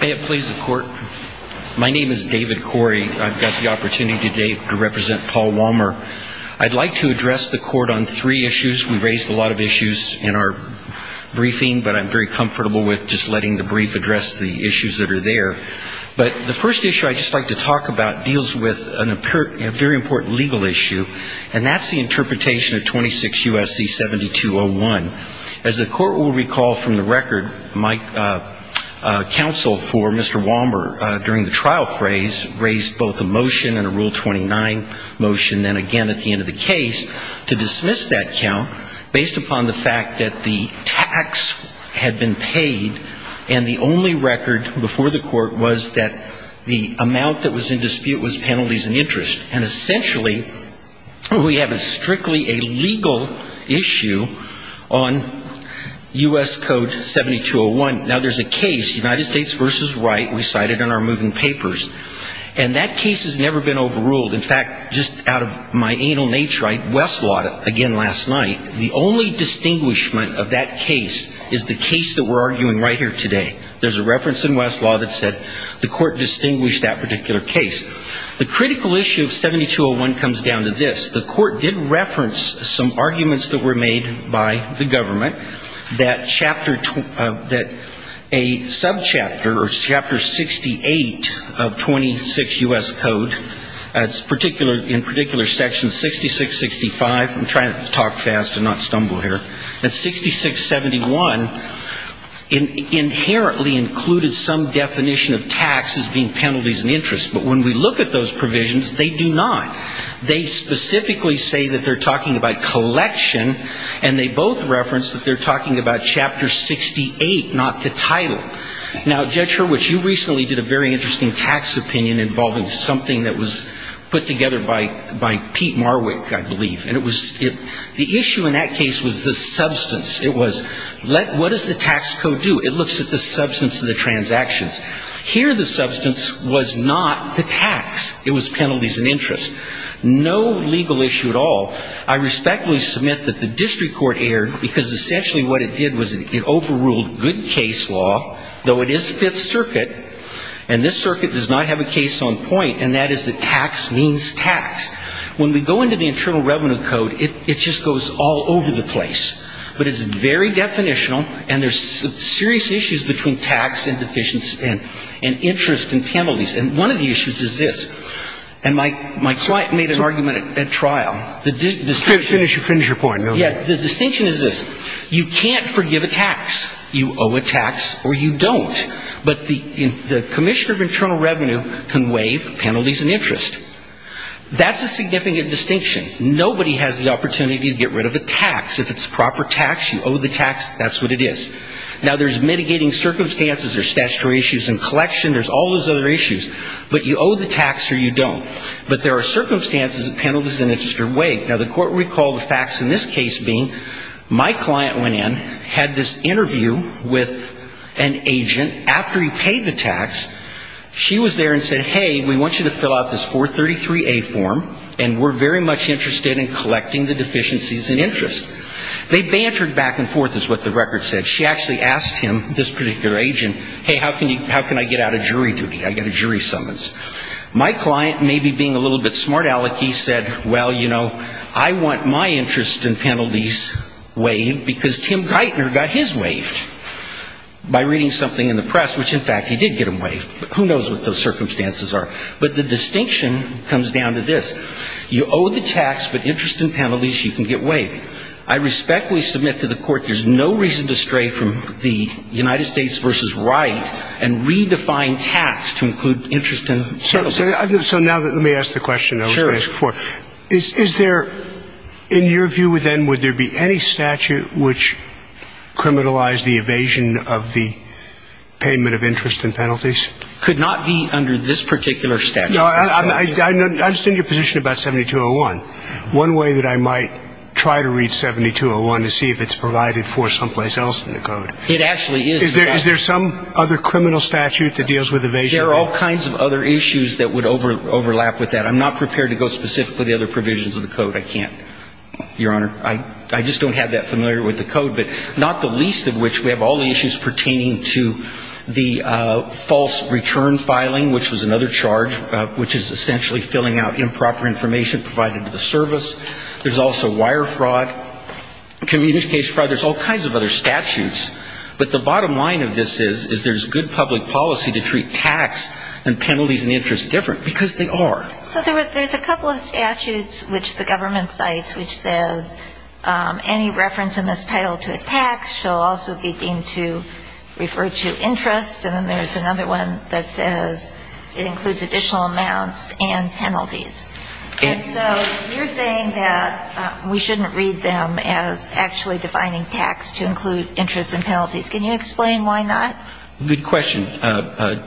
May it please the court. My name is David Corey. I've got the opportunity today to represent Paul Wommer. I'd like to address the court on three issues. We raised a lot of issues in our briefing, but I'm very comfortable with just letting the brief address the issues that are there. But the first issue I'd just like to talk about deals with a very important legal issue, and that's the interpretation of 26 U.S.C. 7201. As the court will recall from the record, Mike Wommer's counsel for Mr. Wommer during the trial phrase raised both a motion and a Rule 29 motion and again at the end of the case to dismiss that count based upon the fact that the tax had been paid and the only record before the court was that the amount that was in dispute was penalties and interest. And essentially, we have a strictly illegal issue on U.S. Code 7201. Now, there's a case in the U.S. Supreme Court, and I'm not going to go into the details of that, but I'm going to talk about a case, United States v. Wright, we cited in our moving papers. And that case has never been overruled. In fact, just out of my anal nature, I Westlawed it again last night. The only distinguishment of that case is the case that we're arguing right here today. There's a reference in Westlaw that said the court distinguished that particular case. The subchapter or chapter 68 of 26 U.S. Code, in particular section 6665, I'm trying to talk fast and not stumble here, that 6671 inherently included some definition of tax as being penalties and interest. But when we look at those provisions, they do not. They specifically say that they're talking about collection, and they both reference that they're talking about chapter 68, not the title. Now, Judge Hurwicz, you recently did a very interesting tax opinion involving something that was put together by Pete Marwick, I believe. And it was the issue in that case was the substance. It was what does the tax code do? It looks at the substance of the transactions. Here, the substance was not the tax. It was penalties and interest. No legal issue at all. I respectfully submit that the district court erred because essentially what it did was it overruled good case law, though it is Fifth Circuit, and this circuit does not have a case on point, and that is that tax means tax. When we go into the Internal Revenue Code, it just goes all over the place. But it's very definitional, and there's serious issues between tax and deficient spend and interest and penalties. And one of the issues is this. And my client made an argument at trial. Finish your point. Yeah. The distinction is this. You can't forgive a tax. You owe a tax or you don't. But the Commissioner of Internal Revenue can waive penalties and interest. That's a significant distinction. Nobody has the opportunity to get rid of a tax. If it's proper tax, you owe the tax. That's what it is. Now, there's mitigating circumstances. There's statutory issues in collection. There's all those other issues. But you owe the tax or you don't. But there are circumstances and penalties in a district court. Now, the court recalled the facts in this case being my client went in, had this interview with an agent. After he paid the tax, she was there and said, hey, we want you to fill out this 433A form, and we're very much interested in collecting the deficiencies in interest. They bantered back and forth is what the record said. She actually asked him, this particular agent, hey, how can I get out of jury duty? I've got a jury summons. My client, maybe being a little bit smart aleck, he said, well, you know, I'm not going to get out of jury duty. I've got a jury summons. I want my interest and penalties waived because Tim Geithner got his waived by reading something in the press, which, in fact, he did get him waived. But who knows what those circumstances are. But the distinction comes down to this. You owe the tax, but interest and penalties, you can get waived. I respectfully submit to the court there's no reason to stray from the United States v. Wright and redefine tax to include interest and penalties. So now let me ask the question I was going to ask before. Is there, in your view then, would there be any statute which criminalized the evasion of the payment of interest and penalties? Could not be under this particular statute. I understand your position about 7201. One way that I might try to read 7201 to see if it's provided for someplace else in the code. It actually is. Is there some other criminal statute that deals with evasion? There are all kinds of other issues that would overlap with that. I'm not prepared to go specifically to the other provisions of the code. I can't, Your Honor. I just don't have that familiar with the code. But not the least of which we have all the issues pertaining to the false return filing, which was another charge, which is essentially filling out improper information provided to the service. There's also wire fraud, communication fraud. There's all kinds of other statutes. But the bottom line of this is there's good public policy to treat tax and penalties and interest different because they are. So there's a couple of statutes which the government cites which says any reference in this title to a tax shall also be deemed to refer to interest. And then there's another one that says it includes additional amounts and penalties. And so you're saying that we shouldn't read them as actually defining tax to include interest and penalties. Can you explain why not? Good question,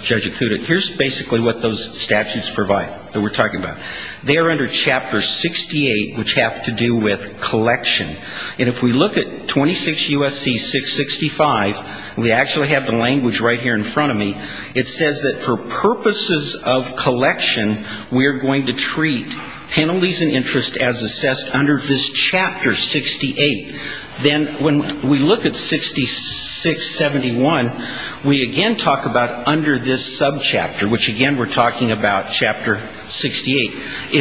Judge Acuda. Here's basically what those statutes provide that we're talking about. They are under Chapter 68, which have to do with collection. And if we look at 26 U.S.C. 665, we actually have the language right here in front of me. It says that for purposes of collection, we are going to treat penalties and interest as assessed under this Chapter 68. Then when we look at 6671, we again talk about under this subchapter, which again we're talking about Chapter 68.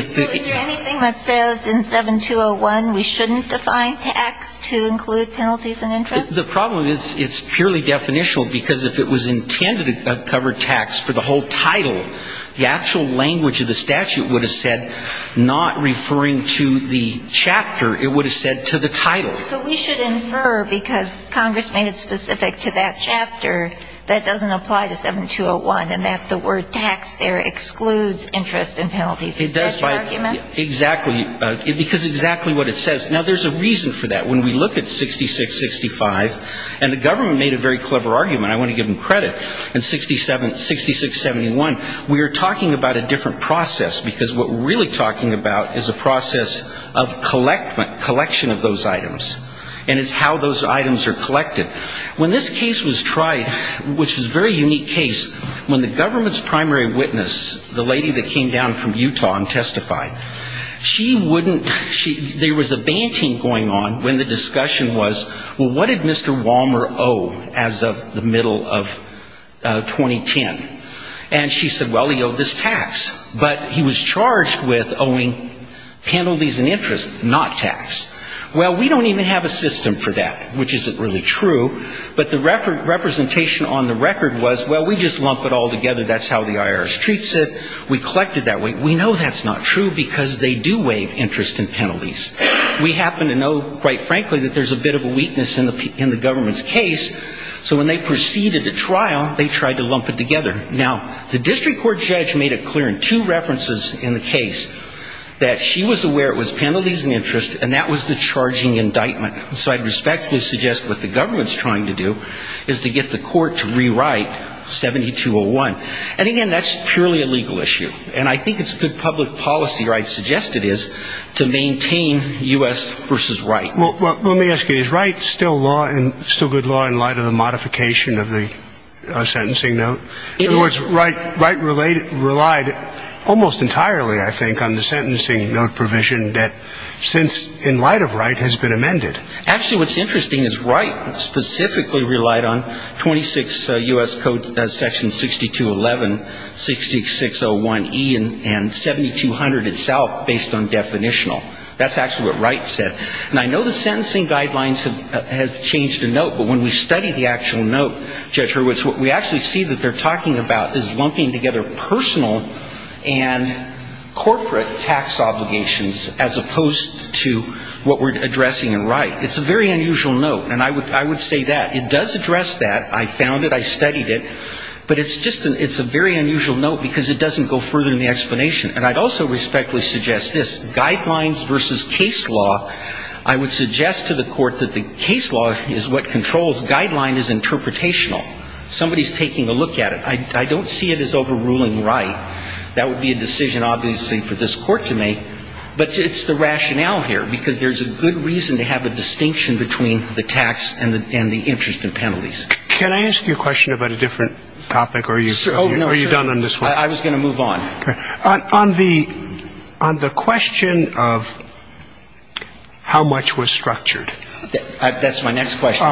So is there anything that says in 7201 we shouldn't define tax to include penalties and interest? The problem is it's purely definitional because if it was intended to cover tax for the whole title, the actual language of the statute would have said not referring to the chapter, it would have said to the title. So we should infer because Congress made it specific to that chapter, that doesn't apply to 7201 and that the word tax there excludes interest and penalties. Is that your argument? Exactly. Because exactly what it says. Now, there's a reason for that. When we look at 6665, and the government made a very clever argument, I want to give them credit, in 6671, we are talking about a different process because what we're really talking about is a process of collection of those items, and it's how those items are collected. When this case was tried, which was a very unique case, when the government's primary witness, the lady that came down from Utah and testified, she wouldn't ‑‑ there was a banting going on when the discussion was, well, what did Mr. Wallmer owe as of the middle of 2010? And she said, well, he owed this tax, but he was charged with owing penalties and interest, not tax. Well, we don't even have a system for that, which isn't really true, but the representation on the record was, well, we just lump it all together, that's how the IRS treats it, we collect it that way. We know that's not true because they do waive interest and penalties. We happen to know, quite frankly, that there's a bit of a weakness in the government's case, so when they proceeded to trial, they tried to lump it together. Now, the district court judge made it clear in two references in the case that she was aware it was penalties and interest, and that was the charging indictment. So I respectfully suggest what the government's trying to do is to get the court to rewrite 7201. And again, that's purely a legal issue, and I think it's good public policy where I'd suggest it is to maintain U.S. versus Wright. Well, let me ask you, is Wright still good law in light of the modification of the sentencing note? In other words, Wright relied almost entirely, I think, on the sentencing note provision that since in light of Wright has been amended. Actually, what's interesting is Wright specifically relied on 26 U.S. Code section 6211, 6601E, and 7200 itself based on definitional. That's actually what Wright said. And I know the sentencing guidelines have changed the note, but when we study the actual note, Judge Hurwitz, what we actually see that they're talking about is lumping together personal and corporate tax obligations as opposed to what we're addressing in Wright. It's a very unusual note, and I would say that. It does address that. I found it. I studied it. But it's just an — it's a very unusual note because it doesn't go further than the explanation. And I'd also respectfully suggest this. Guidelines versus case law, I would suggest to the Court that the case law is what controls. Guideline is interpretational. Somebody's taking a look at it. I don't see it as overruling Wright. That would be a decision, obviously, for this Court to make. But it's the rationale here. Because there's a good reason to have a distinction between the tax and the interest and penalties. Can I ask you a question about a different topic? Are you done on this one? I was going to move on. On the question of how much was structured. That's my next question.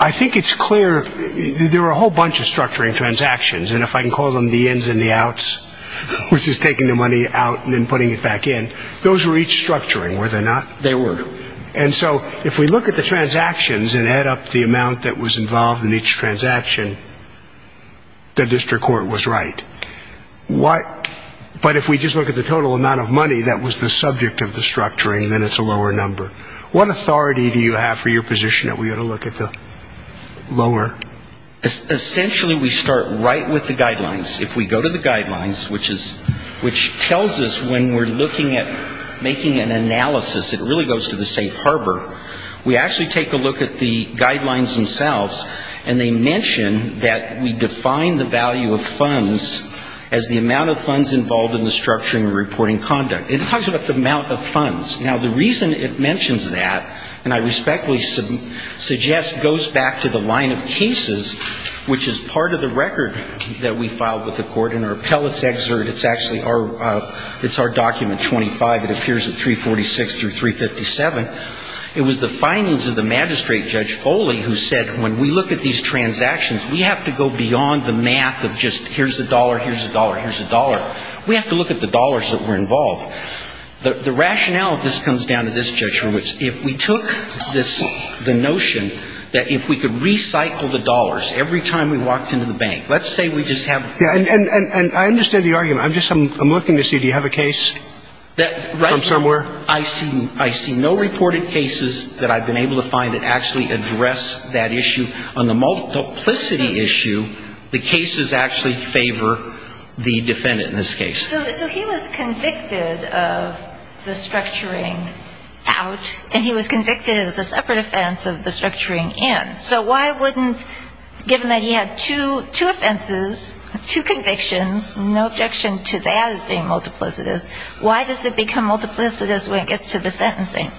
I think it's clear there were a whole bunch of structuring transactions. And if I can call them the ins and the outs, which is taking the money out and then putting it back in, those were each structuring, were they not? They were. And so if we look at the transactions and add up the amount that was involved in each transaction, the district court was right. But if we just look at the total amount of money that was the subject of the structuring, then it's a lower number. What authority do you have for your position that we ought to look at the lower? Essentially, we start right with the guidelines. If we go to the guidelines, which tells us when we're looking at making an analysis, it really goes to the safe harbor. We actually take a look at the guidelines themselves. And they mention that we define the value of funds as the amount of funds involved in the structuring and reporting conduct. It talks about the amount of funds. Now, the reason it mentions that, and I respectfully suggest goes back to the line of cases, which is part of the record that we filed with the court in our appellate's excerpt. It's actually our document 25. It appears at 346 through 357. It was the findings of the magistrate, Judge Foley, who said when we look at these transactions, we have to go beyond the math of just here's a dollar, here's a dollar, here's a dollar. We have to look at the dollars that were involved. The rationale of this comes down to this, Judge Hurwitz. If we took this, the notion that if we could recycle the dollars every time we walked into the bank. Let's say we just have. And I understand the argument. I'm just looking to see, do you have a case from somewhere? I see no reported cases that I've been able to find that actually address that issue. On the multiplicity issue, the cases actually favor the defendant in this case. So he was convicted of the structuring out, and he was convicted as a separate offense of the structuring in. So why wouldn't, given that he had two offenses, two convictions, no objection to that as being multiplicitous, why does it become multiplicitous when it gets to the sentencing?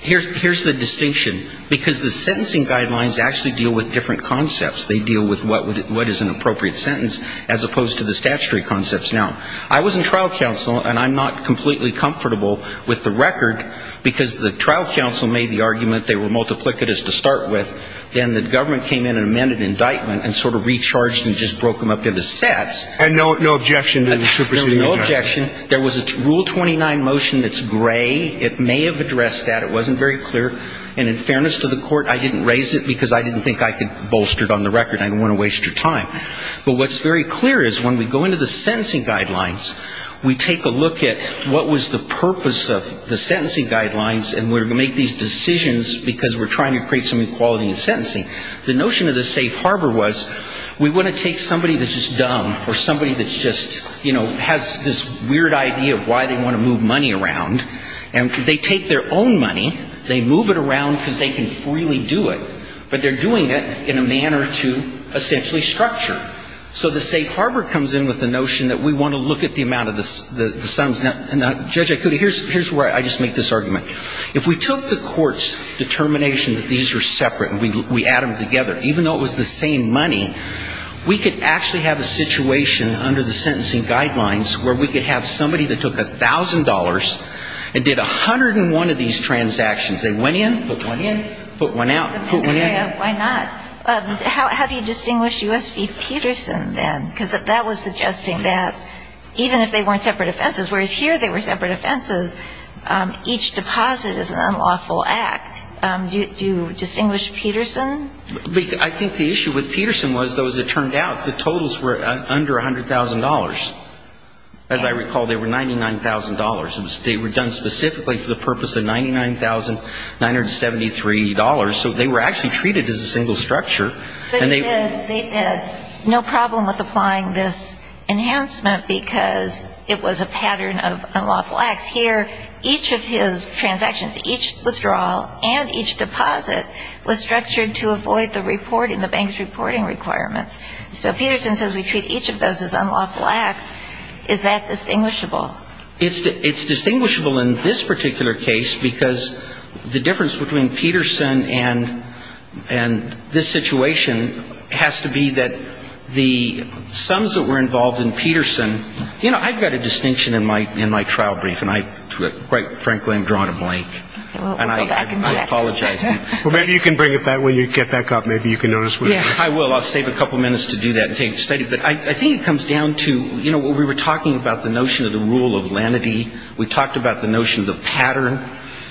Here's the distinction. Because the sentencing guidelines actually deal with different concepts. They deal with what is an appropriate sentence as opposed to the statutory concepts. Now, I was in trial counsel, and I'm not completely comfortable with the record, because the trial counsel made the argument they were multiplicitous to start with. Then the government came in and amended indictment and sort of recharged and just broke them up into sets. And no objection to the superseding? No objection. There was a Rule 29 motion that's gray. It may have addressed that. It wasn't very clear. And in fairness to the court, I didn't raise it because I didn't think I could bolster it on the record. I didn't want to waste your time. But what's very clear is when we go into the sentencing guidelines, we take a look at what was the purpose of the sentencing guidelines, and we're going to make these decisions because we're trying to create some equality in sentencing. The notion of the safe harbor was we want to take somebody that's just dumb or somebody that's just, you know, has this weird idea of why they want to move money around. And they take their own money. They move it around because they can freely do it. But they're doing it in a manner to essentially structure. So the safe harbor comes in with the notion that we want to look at the amount of the sums. Now, Judge Ikuta, here's where I just make this argument. If we took the court's determination that these were separate and we add them together, even though it was the same money, we could actually have a situation under the sentencing guidelines where we could have somebody that took $1,000 and did 101 of these transactions. They went in, put one in, put one out, put one out. Why not? How do you distinguish U.S. v. Peterson then? Because that was suggesting that even if they weren't separate offenses, whereas here they were separate offenses, each deposit is an unlawful act. Do you distinguish Peterson? I think the issue with Peterson was, though, as it turned out, the totals were under $100,000. As I recall, they were $99,000. They were done specifically for the purpose of $99,973. So they were actually treated as a single structure. But he said, they said, no problem with applying this enhancement because it was a pattern of unlawful acts. Here, each of his transactions, each withdrawal and each deposit, was structured to avoid the reporting, the bank's reporting requirements. So Peterson says we treat each of those as unlawful acts. Is that distinguishable? It's distinguishable in this particular case because the difference between Peterson and this situation has to be that the sums that were involved in Peterson, you know, I've got a distinction in my trial brief, and I quite frankly am drawn to Blake. And I apologize. Well, maybe you can bring it back when you get back up. Maybe you can notice what it is. I will. I'll save a couple minutes to do that and take a study. But I think it comes down to, you know, when we were talking about the notion of the rule of lenity, we talked about the notion of the pattern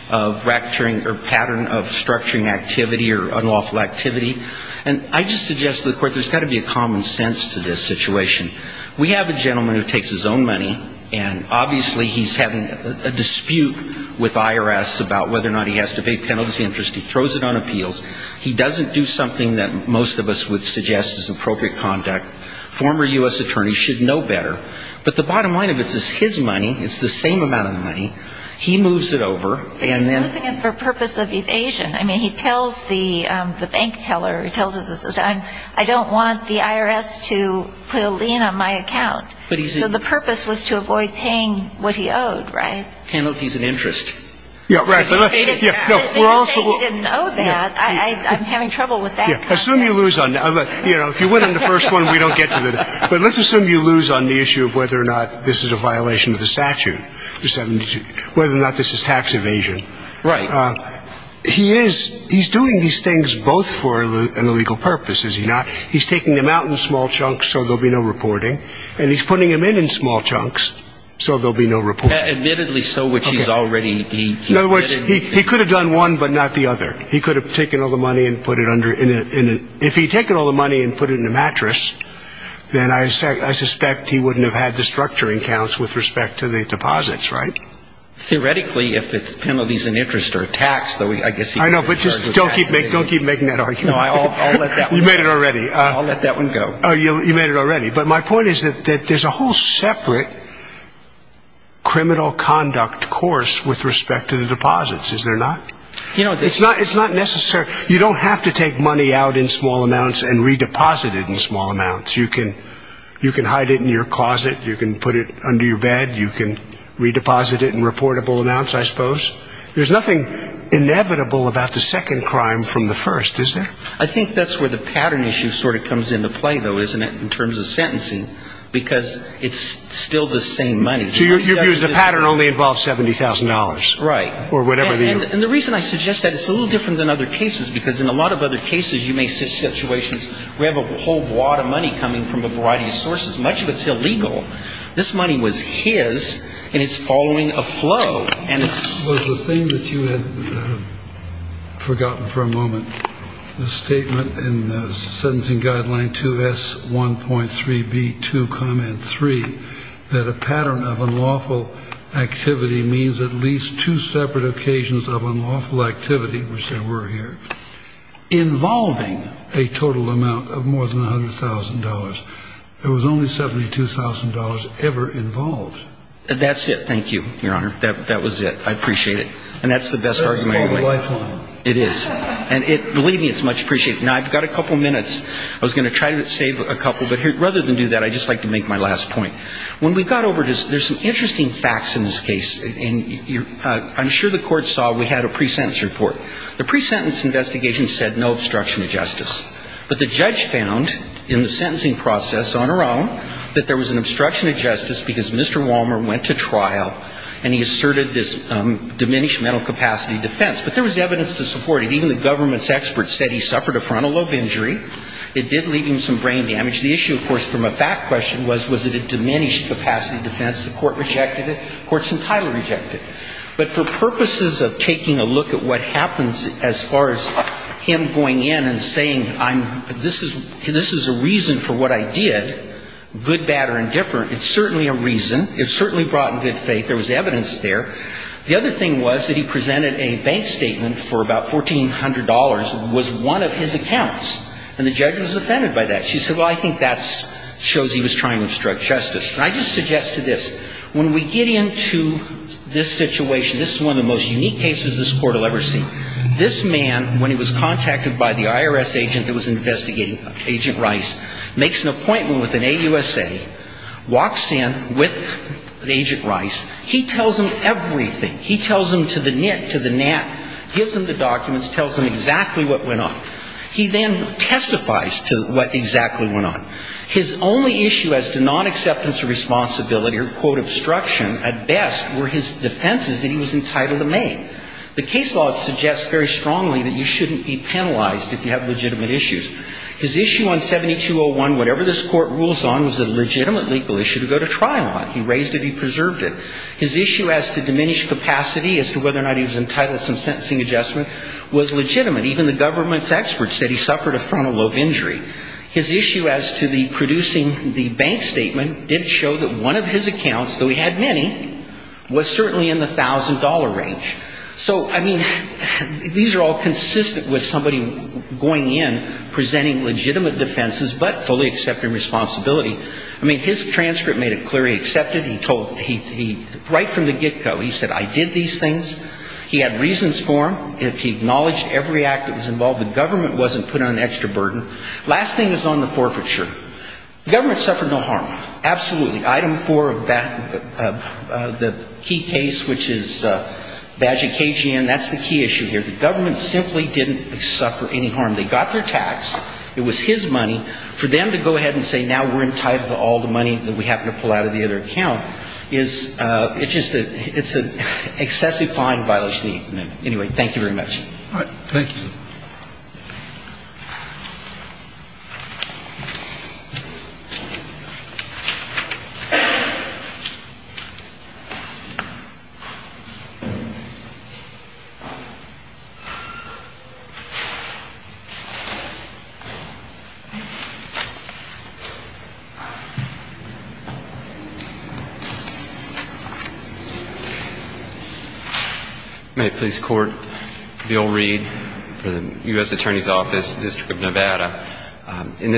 of racketeering or pattern of structuring activity or unlawful activity. And I just suggest to the Court there's got to be a common sense to this situation. We have a gentleman who takes his own money. And obviously he's having a dispute with IRS about whether or not he has to pay penalty interest. He throws it on appeals. He doesn't do something that most of us would suggest is appropriate conduct. Former U.S. attorneys should know better. But the bottom line of it is his money, it's the same amount of money, he moves it over. He's moving it for purpose of evasion. I mean, he tells the bank teller, he tells his assistant, I don't want the IRS to put a lien on my account. So the purpose was to avoid paying what he owed, right? Penalty is an interest. I'm having trouble with that. Assume you lose on that. If you win on the first one, we don't get to it. But let's assume you lose on the issue of whether or not this is a violation of the statute, whether or not this is tax evasion. Right. He is, he's doing these things both for an illegal purpose, is he not? He's taking them out in small chunks so there'll be no reporting. And he's putting them in in small chunks so there'll be no reporting. Admittedly so, which he's already done. In other words, he could have done one but not the other. He could have taken all the money and put it under, if he'd taken all the money and put it in a mattress, then I suspect he wouldn't have had the structuring counts with respect to the deposits, right? Theoretically, if it's penalties and interest or tax, I guess he could have charged with tax evasion. I know, but just don't keep making that argument. No, I'll let that one go. You made it already. I'll let that one go. You made it already. But my point is that there's a whole separate criminal conduct course with respect to the deposits, is there not? It's not necessary. You don't have to take money out in small amounts and redeposit it in small amounts. You can hide it in your closet. You can put it under your bed. You can redeposit it in reportable amounts, I suppose. There's nothing inevitable about the second crime from the first, is there? I think that's where the pattern issue sort of comes into play, though, isn't it, in terms of sentencing? Because it's still the same money. So you've used a pattern that only involves $70,000. Right. Or whatever the – And the reason I suggest that, it's a little different than other cases, because in a lot of other cases you may see situations where you have a whole wad of money coming from a variety of sources. Much of it's illegal. This money was his, and it's following a flow. Well, the thing that you had forgotten for a moment, the statement in the sentencing guideline 2S1.3B2, comment 3, that a pattern of unlawful activity means at least two separate occasions of unlawful activity, which there were here, involving a total amount of more than $100,000. There was only $72,000 ever involved. That's it. Thank you, Your Honor. That was it. I appreciate it. And that's the best argument I can make. It is. And believe me, it's much appreciated. Now, I've got a couple minutes. I was going to try to save a couple, but rather than do that, I'd just like to make my last point. When we got over to – there's some interesting facts in this case. And I'm sure the Court saw we had a pre-sentence report. The pre-sentence investigation said no obstruction of justice. But the judge found in the sentencing process on her own that there was an obstruction of justice because Mr. Wallmer went to trial and he asserted this diminished mental capacity defense. But there was evidence to support it. Even the government's experts said he suffered a frontal lobe injury. It did leave him some brain damage. The issue, of course, from a fact question was, was it a diminished capacity defense? The Court rejected it. The Court's entitled to reject it. But for purposes of taking a look at what happens as far as him going in and saying, I'm – this is – this is a reason for what I did, good, bad, or indifferent, it's certainly a reason. It's certainly brought in good faith. There was evidence there. The other thing was that he presented a bank statement for about $1,400 was one of his accounts. And the judge was offended by that. She said, well, I think that shows he was trying to obstruct justice. And I just suggest to this, when we get into this situation, this is one of the most unique cases this Court will ever see. This man, when he was contacted by the IRS agent that was investigating Agent Rice, makes an appointment with an AUSA, walks in with Agent Rice. He tells him everything. He tells him to the nit, to the gnat, gives him the documents, tells him exactly what went on. He then testifies to what exactly went on. His only issue as to non-acceptance of responsibility or, quote, obstruction at best were his defenses that he was entitled to make. The case law suggests very strongly that you shouldn't be penalized if you have legitimate issues. His issue on 7201, whatever this Court rules on, was a legitimate legal issue to go to trial on. He raised it, he preserved it. His issue as to diminished capacity as to whether or not he was entitled to some sentencing adjustment was legitimate. Even the government's experts said he suffered a frontal lobe injury. His issue as to the producing the bank statement did show that one of his accounts, though he had many, was certainly in the $1,000 range. So, I mean, these are all consistent with somebody going in, presenting legitimate defenses, but fully accepting responsibility. I mean, his transcript made it clear he accepted. He told, he, right from the get-go, he said, I did these things. He had reasons for them. He acknowledged every act that was involved. The government wasn't put on an extra burden. Last thing is on the forfeiture. The government suffered no harm. Absolutely. Item 4 of that, the key case, which is Bajikajian, that's the key issue here. The government simply didn't suffer any harm. They got their tax. It was his money. For them to go ahead and say now we're entitled to all the money that we have to pull out of the other account is, it's just a, it's an excessive fine by legitimate amendment. Anyway, thank you very much. All right. Thank you. Thank you. In this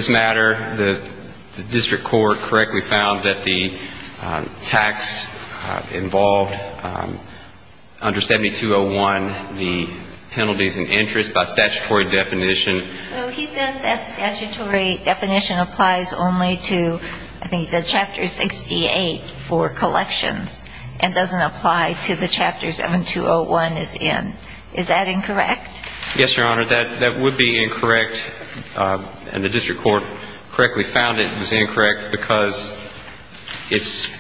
matter, the district court correctly found that the tax involved under 7201, the penalties and interest by statutory definition. So he says that statutory definition applies only to, I think he said Chapter 68 for collections and doesn't apply to the chapters 7201 is in. Is that incorrect? Yes, Your Honor. That would be incorrect. And the district court correctly found it was incorrect because it's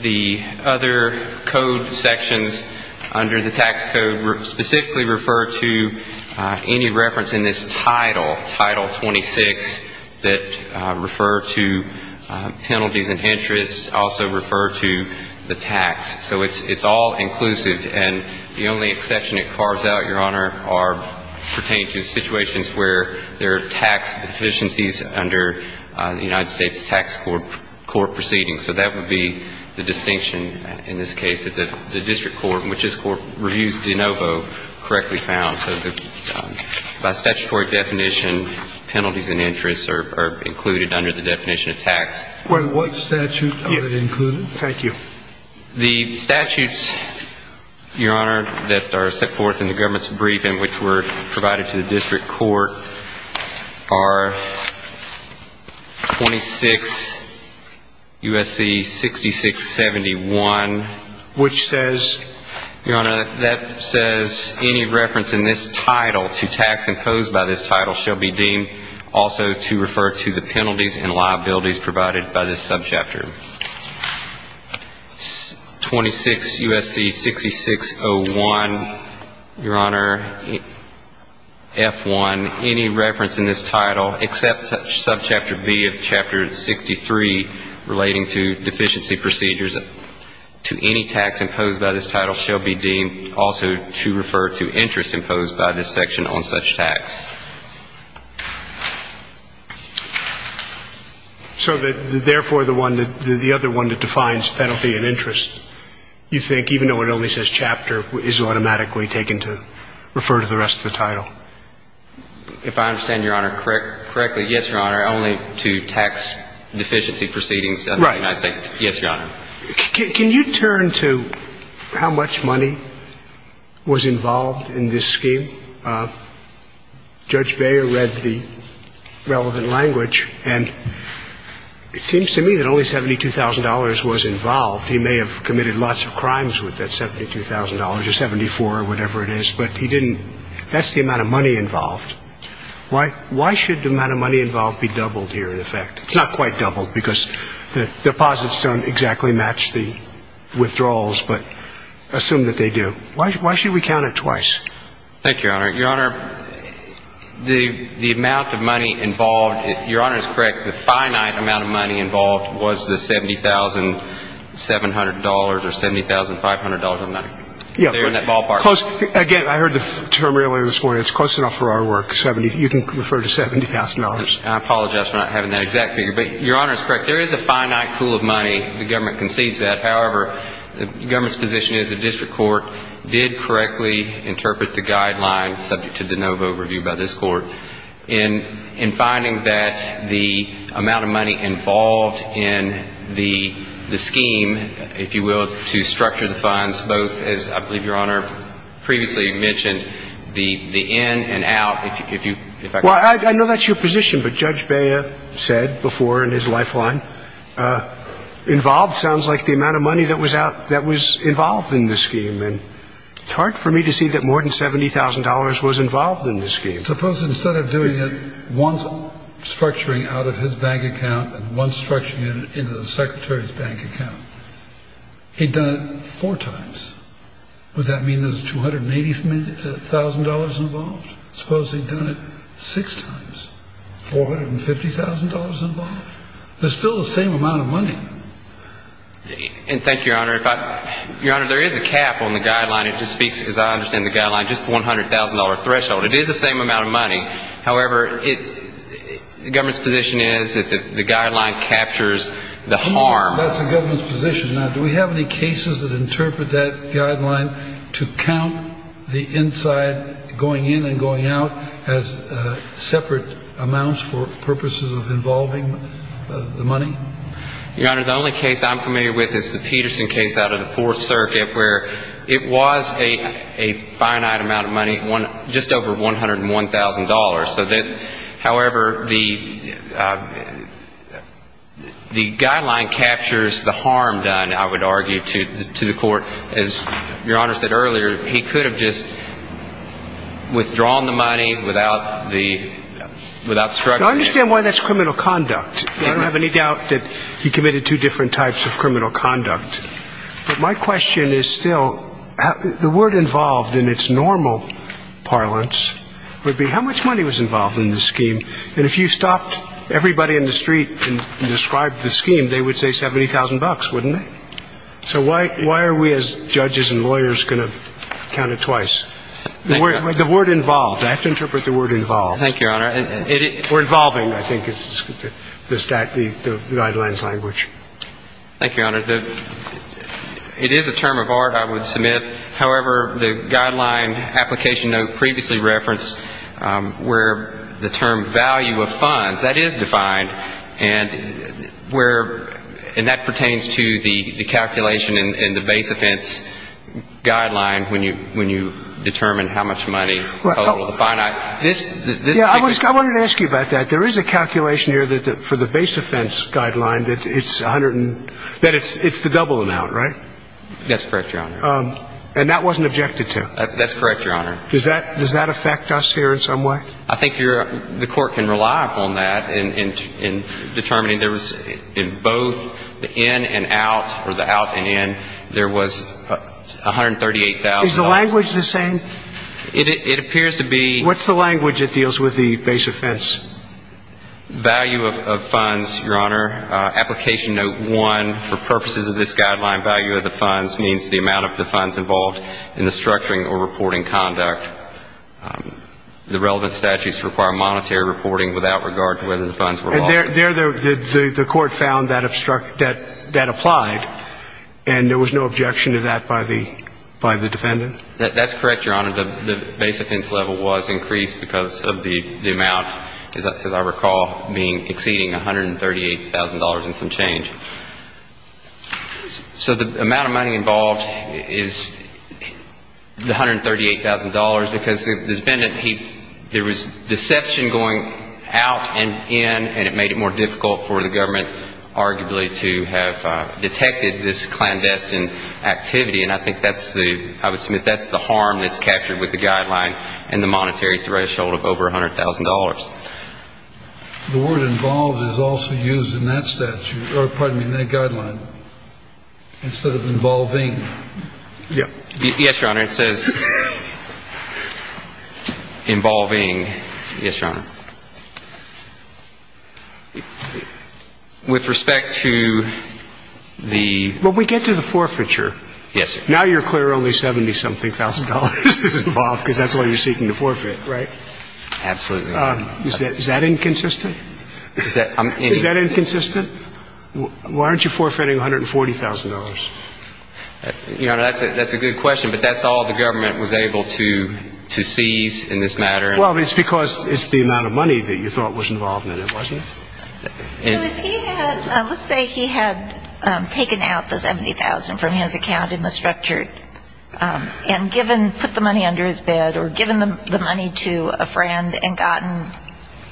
the other code sections under the tax code specifically refer to any reference in this title, Title 26, that refer to penalties and interest, also refer to the tax. So it's all inclusive. And the only exception it carves out, Your Honor, pertains to situations where there are tax deficiencies under the United States tax court proceedings. So that would be the distinction in this case, that the district court, which this court reviews de novo, correctly found. So by statutory definition, penalties and interest are included under the definition of tax. What statute are they included? Thank you. The statutes, Your Honor, that are set forth in the government's briefing, which were provided to the district court, are 26 U.S.C. 6671. Which says? Your Honor, that says any reference in this title to tax imposed by this title shall be deemed also to refer to the penalties and liabilities provided by this 26 U.S.C. 6601. Your Honor, F1, any reference in this title except subchapter B of chapter 63 relating to deficiency procedures to any tax imposed by this title shall be deemed also to refer to interest imposed by this section on such tax. So therefore, the other one that defines penalty and interest, you think, even though it only says chapter, is automatically taken to refer to the rest of the title? If I understand, Your Honor, correctly, yes, Your Honor, only to tax deficiency proceedings under the United States. Right. Yes, Your Honor. Can you turn to how much money was involved in this scheme? I think Judge Beyer read the relevant language. And it seems to me that only $72,000 was involved. He may have committed lots of crimes with that $72,000 or 74 or whatever it is. But he didn't – that's the amount of money involved. Why should the amount of money involved be doubled here, in effect? It's not quite doubled because the deposits don't exactly match the withdrawals, but assume that they do. Why should we count it twice? Thank you, Your Honor. Your Honor, the amount of money involved – Your Honor is correct. The finite amount of money involved was the $70,700 or $70,500 amount. Yeah. There in that ballpark. Again, I heard the term earlier this morning. It's close enough for our work, 70 – you can refer to $70,000. I apologize for not having that exact figure. But Your Honor is correct. There is a finite pool of money. The government concedes that. However, the government's position is the district court did correctly interpret the guidelines, subject to de novo review by this court, in finding that the amount of money involved in the scheme, if you will, to structure the funds, both, as I believe Your Honor previously mentioned, the in and out, if you – Well, I know that's your position, but Judge Bea said before in his lifeline, involved sounds like the amount of money that was out – that was involved in the scheme. And it's hard for me to see that more than $70,000 was involved in the scheme. Suppose instead of doing it once structuring out of his bank account and once structuring it into the Secretary's bank account, he'd done it four times. Would that mean there's $280,000 involved? Suppose he'd done it six times, $450,000 involved? There's still the same amount of money. And thank you, Your Honor. Your Honor, there is a cap on the guideline. It just speaks, as I understand the guideline, just $100,000 threshold. It is the same amount of money. However, the government's position is that the guideline captures the harm. That's the government's position. Now, do we have any cases that interpret that guideline to count the inside going in and going out as separate amounts for purposes of involving the money? Your Honor, the only case I'm familiar with is the Peterson case out of the Fourth Circuit where it was a finite amount of money, just over $101,000. However, the guideline captures the harm done, I would argue, to the court. As Your Honor said earlier, he could have just withdrawn the money without struggling. I understand why that's criminal conduct. I don't have any doubt that he committed two different types of criminal conduct. But my question is still the word involved in its normal parlance would be how much money was involved in the scheme. And if you stopped everybody in the street and described the scheme, they would say $70,000, wouldn't they? So why are we as judges and lawyers going to count it twice? The word involved. I have to interpret the word involved. Thank you, Your Honor. Or involving, I think, is the guideline's language. Thank you, Your Honor. It is a term of art, I would submit. However, the guideline application note previously referenced where the term value of funds, that is defined, and that pertains to the calculation in the base offense guideline when you determine how much money, the finite. I wanted to ask you about that. There is a calculation here for the base offense guideline that it's the double amount, right? That's correct, Your Honor. And that wasn't objected to? That's correct, Your Honor. Does that affect us here in some way? I think the court can rely upon that in determining there was in both the in and out, or the out and in, there was $138,000. Is the language the same? It appears to be. What's the language that deals with the base offense? Value of funds, Your Honor. Application note one, for purposes of this guideline, value of the funds means the amount of the funds involved in the structuring or reporting conduct. The relevant statutes require monetary reporting without regard to whether the funds were lost. The court found that applied, and there was no objection to that by the defendant? That's correct, Your Honor. The base offense level was increased because of the amount, as I recall, exceeding $138,000 and some change. So the amount of money involved is $138,000 because the defendant, there was deception going out and in, and it made it more difficult for the government arguably to have detected this clandestine activity. And I think that's the, I would submit that's the harm that's captured with the guideline and the monetary threshold of over $100,000. The word involved is also used in that statute, or pardon me, in that guideline instead of involving. Yeah. Yes, Your Honor. It says involving. Yes, Your Honor. With respect to the. Well, we get to the forfeiture. Yes, sir. Now you're clear only $70,000 is involved because that's all you're seeking to forfeit, right? Absolutely. Is that inconsistent? Is that inconsistent? Why aren't you forfeiting $140,000? Your Honor, that's a good question, but that's all the government was able to seize in this matter. Well, it's because it's the amount of money that you thought was involved in it, wasn't it? Yes. So if he had, let's say he had taken out the $70,000 from his account in the structured and given, put the money under his bed or given the money to a friend and gotten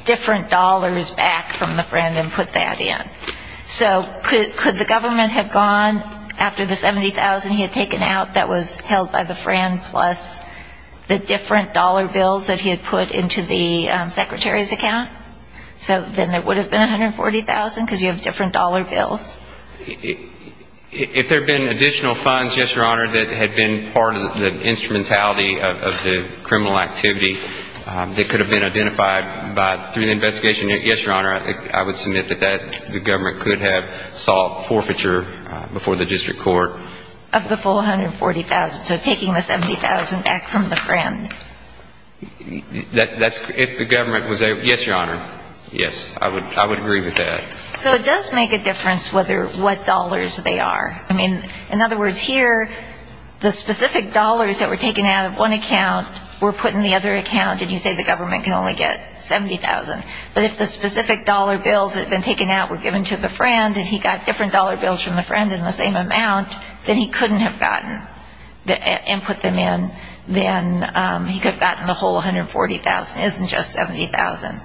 different dollars back from the friend and put that in, so could the government have gone after the $70,000 he had taken out that was held by the friend plus the different dollar bills that he had put into the secretary's account? So then it would have been $140,000 because you have different dollar bills? If there had been additional funds, yes, Your Honor, that had been part of the instrumentality of the criminal activity that could have been identified through the investigation, yes, Your Honor, I would submit that the government could have sought forfeiture before the district court. Of the full $140,000, so taking the $70,000 back from the friend. If the government was able to, yes, Your Honor, yes, I would agree with that. So it does make a difference what dollars they are. In other words, here, the specific dollars that were taken out of one account were put in the other account and you say the government can only get $70,000. But if the specific dollar bills that had been taken out were given to the friend and he got different dollar bills from the friend in the same amount, then he couldn't have gotten and put them in. Then he could have gotten the whole $140,000. But $70,000 isn't just $70,000.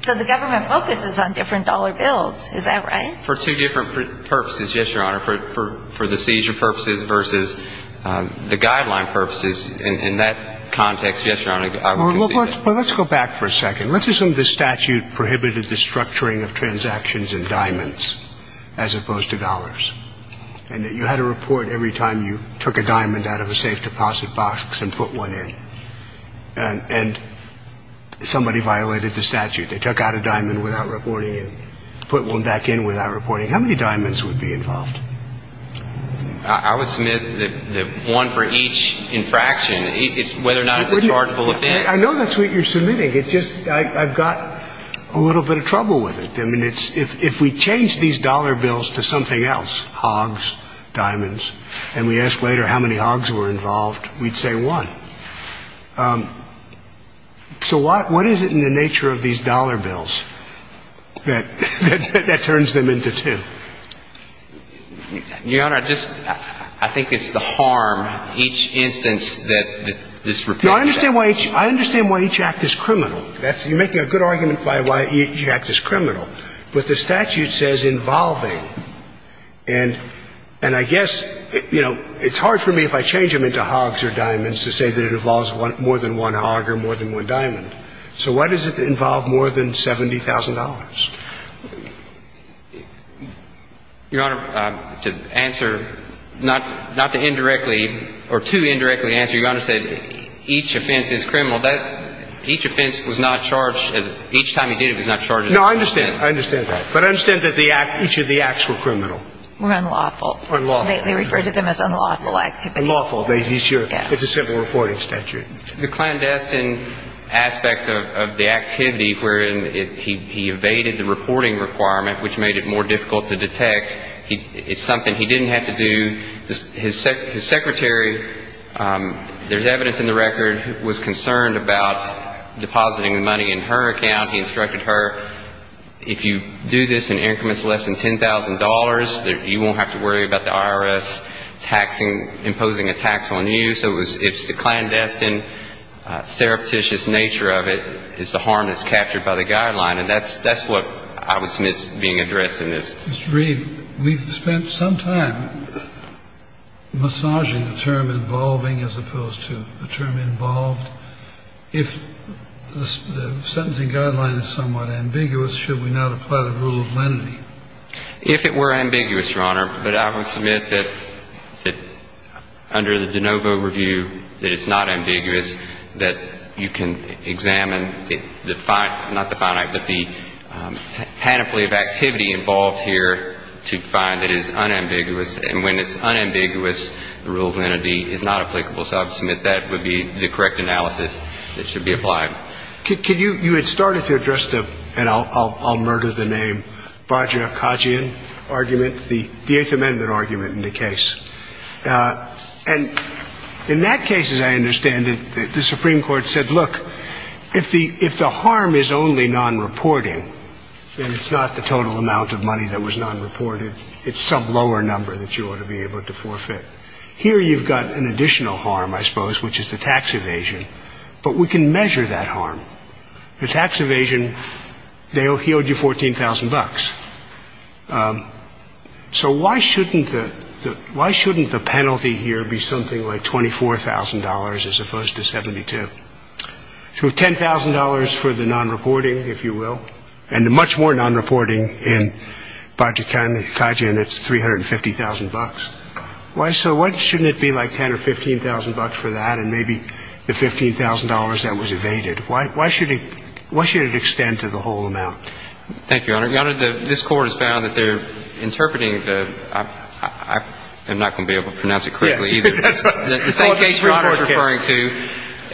So the government focuses on different dollar bills. Is that right? For two different purposes, yes, Your Honor. For the seizure purposes versus the guideline purposes, in that context, yes, Your Honor, I would concede that. Well, let's go back for a second. Let's assume the statute prohibited the structuring of transactions in diamonds as opposed to dollars and that you had to report every time you took a diamond out of a safe deposit box and put one in. And somebody violated the statute. They took out a diamond without reporting it, put one back in without reporting it. How many diamonds would be involved? I would submit that one for each infraction, whether or not it's a chargeable offense. I know that's what you're submitting. It's just I've got a little bit of trouble with it. I mean, it's if we change these dollar bills to something else, hogs, diamonds, and we ask later how many hogs were involved, we'd say one. So what is it in the nature of these dollar bills that turns them into two? Your Honor, I think it's the harm each instance that this repeals. No, I understand why each act is criminal. You're making a good argument by why each act is criminal. But the statute says involving. And I guess, you know, it's hard for me if I change them into hogs or diamonds to say that it involves more than one hog or more than one diamond. So why does it involve more than $70,000? Your Honor, to answer, not to indirectly or too indirectly answer, Your Honor said each offense is criminal. Each offense was not charged as each time he did it was not charged as a criminal offense. No, I understand. I understand that. But I understand that each of the acts were criminal. Were unlawful. Unlawful. They refer to them as unlawful activities. Unlawful. It's a simple reporting statute. The clandestine aspect of the activity wherein he evaded the reporting requirement, which made it more difficult to detect, it's something he didn't have to do. His secretary, there's evidence in the record, was concerned about depositing the money in her account. He instructed her, if you do this in increments less than $10,000, you won't have to worry about the IRS imposing a tax on you. So it's the clandestine, surreptitious nature of it is the harm that's captured by the guideline. And that's what I would submit is being addressed in this. Mr. Reed, we've spent some time massaging the term involving as opposed to the term involved. If the sentencing guideline is somewhat ambiguous, should we not apply the rule of lenity? If it were ambiguous, Your Honor, but I would submit that under the de novo review that it's not ambiguous, that you can examine the finite, not the finite, but the panoply of activity involved here to find that it's unambiguous. And when it's unambiguous, the rule of lenity is not applicable. So I would submit that would be the correct analysis that should be applied. Could you, you had started to address the, and I'll murder the name, Bhajah Khajian argument, the Eighth Amendment argument in the case. And in that case, as I understand it, the Supreme Court said, look, if the if the harm is only non-reporting, then it's not the total amount of money that was not reported. It's some lower number that you ought to be able to forfeit here. You've got an additional harm, I suppose, which is the tax evasion. But we can measure that harm. The tax evasion. He owed you $14,000. So why shouldn't the why shouldn't the penalty here be something like $24,000 as opposed to 72 to $10,000 for the non-reporting, if you will, and much more non-reporting in Bhajah Khajian, it's 350,000 bucks. Why? So why shouldn't it be like 10 or 15,000 bucks for that? And maybe the $15,000 that was evaded. Why should it extend to the whole amount? Thank you, Your Honor. Your Honor, this Court has found that they're interpreting the I'm not going to be able to pronounce it correctly either. The same case you're referring to,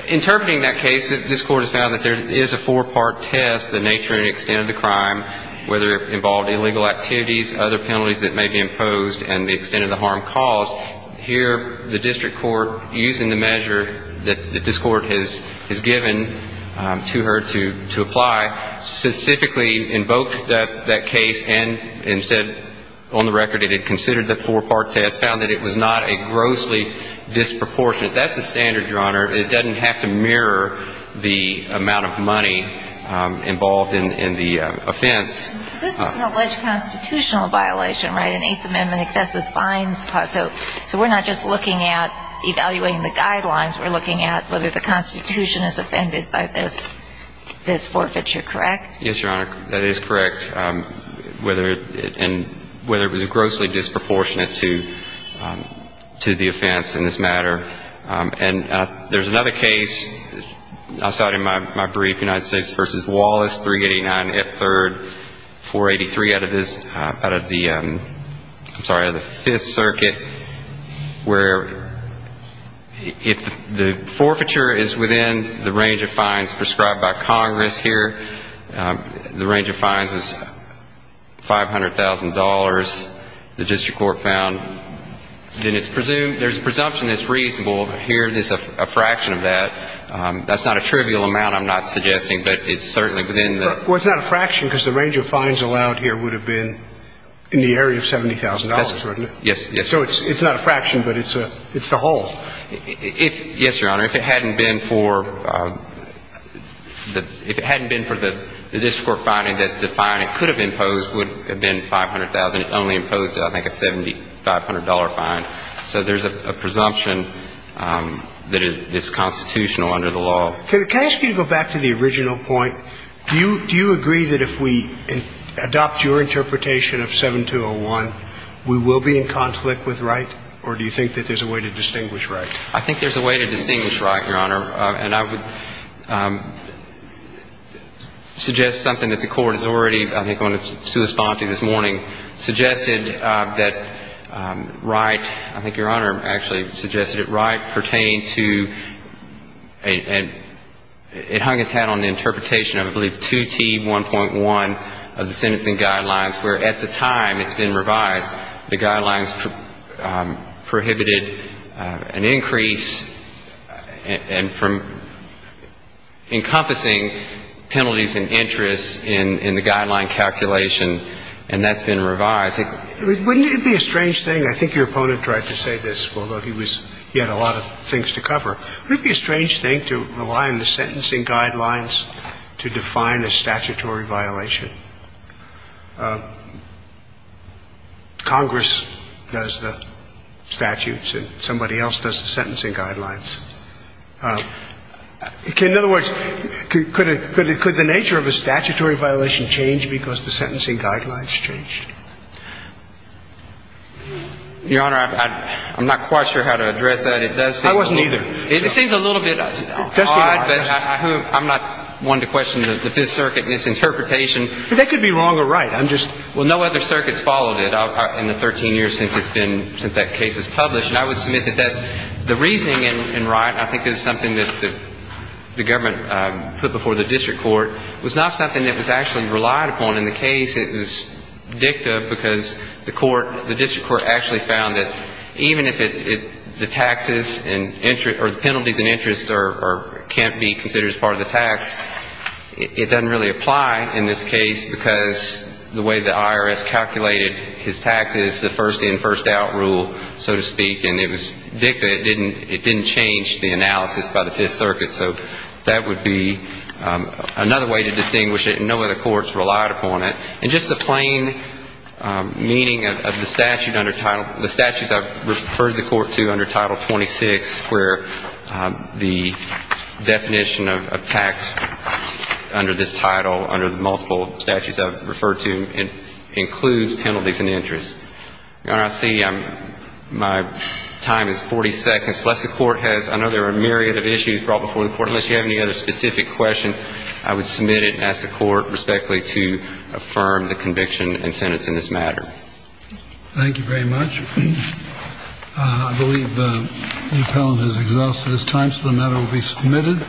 interpreting that case, this Court has found that there is a four-part test, the nature and extent of the crime, whether it involved illegal activities, other penalties that may be imposed and the extent of the harm caused. Here, the district court, using the measure that this Court has given to her to apply, specifically invoked that case and said on the record it had considered the four-part test, found that it was not a grossly disproportionate. That's the standard, Your Honor. It doesn't have to mirror the amount of money involved in the offense. This is an alleged constitutional violation, right, an Eighth Amendment excessive fines clause. So we're not just looking at evaluating the guidelines. We're looking at whether the Constitution is offended by this forfeiture, correct? Yes, Your Honor. That is correct, whether it was grossly disproportionate to the offense in this matter. And there's another case I cited in my brief, United States v. Wallace, 389 F. 3rd, 483 out of the Fifth Circuit, where if the forfeiture is within the range of fines prescribed by Congress here, the range of fines is $500,000, the district court found, then there's a presumption it's reasonable. Here, there's a fraction of that. That's not a trivial amount, I'm not suggesting, but it's certainly within the ---- Well, it's not a fraction because the range of fines allowed here would have been in the area of $70,000, right? Yes. So it's not a fraction, but it's the whole. Yes, Your Honor. If it hadn't been for the district court finding that the fine it could have imposed would have been $500,000, it only imposed, I think, a $7,500 fine. So there's a presumption that it's constitutional under the law. Can I ask you to go back to the original point? Do you agree that if we adopt your interpretation of 7201, we will be in conflict with Wright, or do you think that there's a way to distinguish Wright? I think there's a way to distinguish Wright, Your Honor. And I would suggest something that the Court has already, I think, wanted to respond to this morning, suggested that Wright, I think Your Honor actually suggested it, Wright pertained to a ---- it hung its hat on the interpretation of, I believe, 2T1.1 of the sentencing guidelines, where at the time it's been revised, the guidelines prohibited an increase and from encompassing penalties and interests in the guideline calculation, and that's been revised. Wouldn't it be a strange thing? I think your opponent tried to say this, although he was ---- he had a lot of things to cover. Wouldn't it be a strange thing to rely on the sentencing guidelines to define a statutory violation? Congress does the statutes and somebody else does the sentencing guidelines. In other words, could the nature of a statutory violation change because the sentencing guidelines change? Your Honor, I'm not quite sure how to address that. It does seem a little ---- I wasn't either. It seems a little bit odd, but I'm not one to question the Fifth Circuit and its interpretation. But that could be wrong or right. I'm just ---- Well, no other circuits followed it in the 13 years since it's been ---- since that case was published. And I would submit that the reasoning in Wright, I think, is something that the government put before the district court, was not something that was actually relied upon in the case. It was dicta because the court ---- the district court actually found that even if it ---- the taxes and penalties and interest are ---- can't be considered as part of the tax, it doesn't really apply in this case because the way the IRS calculated his taxes, the first in, first out rule, so to speak. And it was dicta. It didn't change the analysis by the Fifth Circuit. So that would be another way to distinguish it, and no other courts relied upon it. And just the plain meaning of the statute under Title ---- the statutes I've referred the court to under Title 26, where the definition of tax under this title, under the multiple statutes I've referred to, includes penalties and interest. Your Honor, I see my time is 40 seconds. Unless the court has ---- I know there are a myriad of issues brought before the court. Unless you have any other specific questions, I would submit it and ask the court respectfully to affirm the conviction and sentence in this matter. Thank you very much. I believe the appellant has exhausted his time, so the matter will be submitted.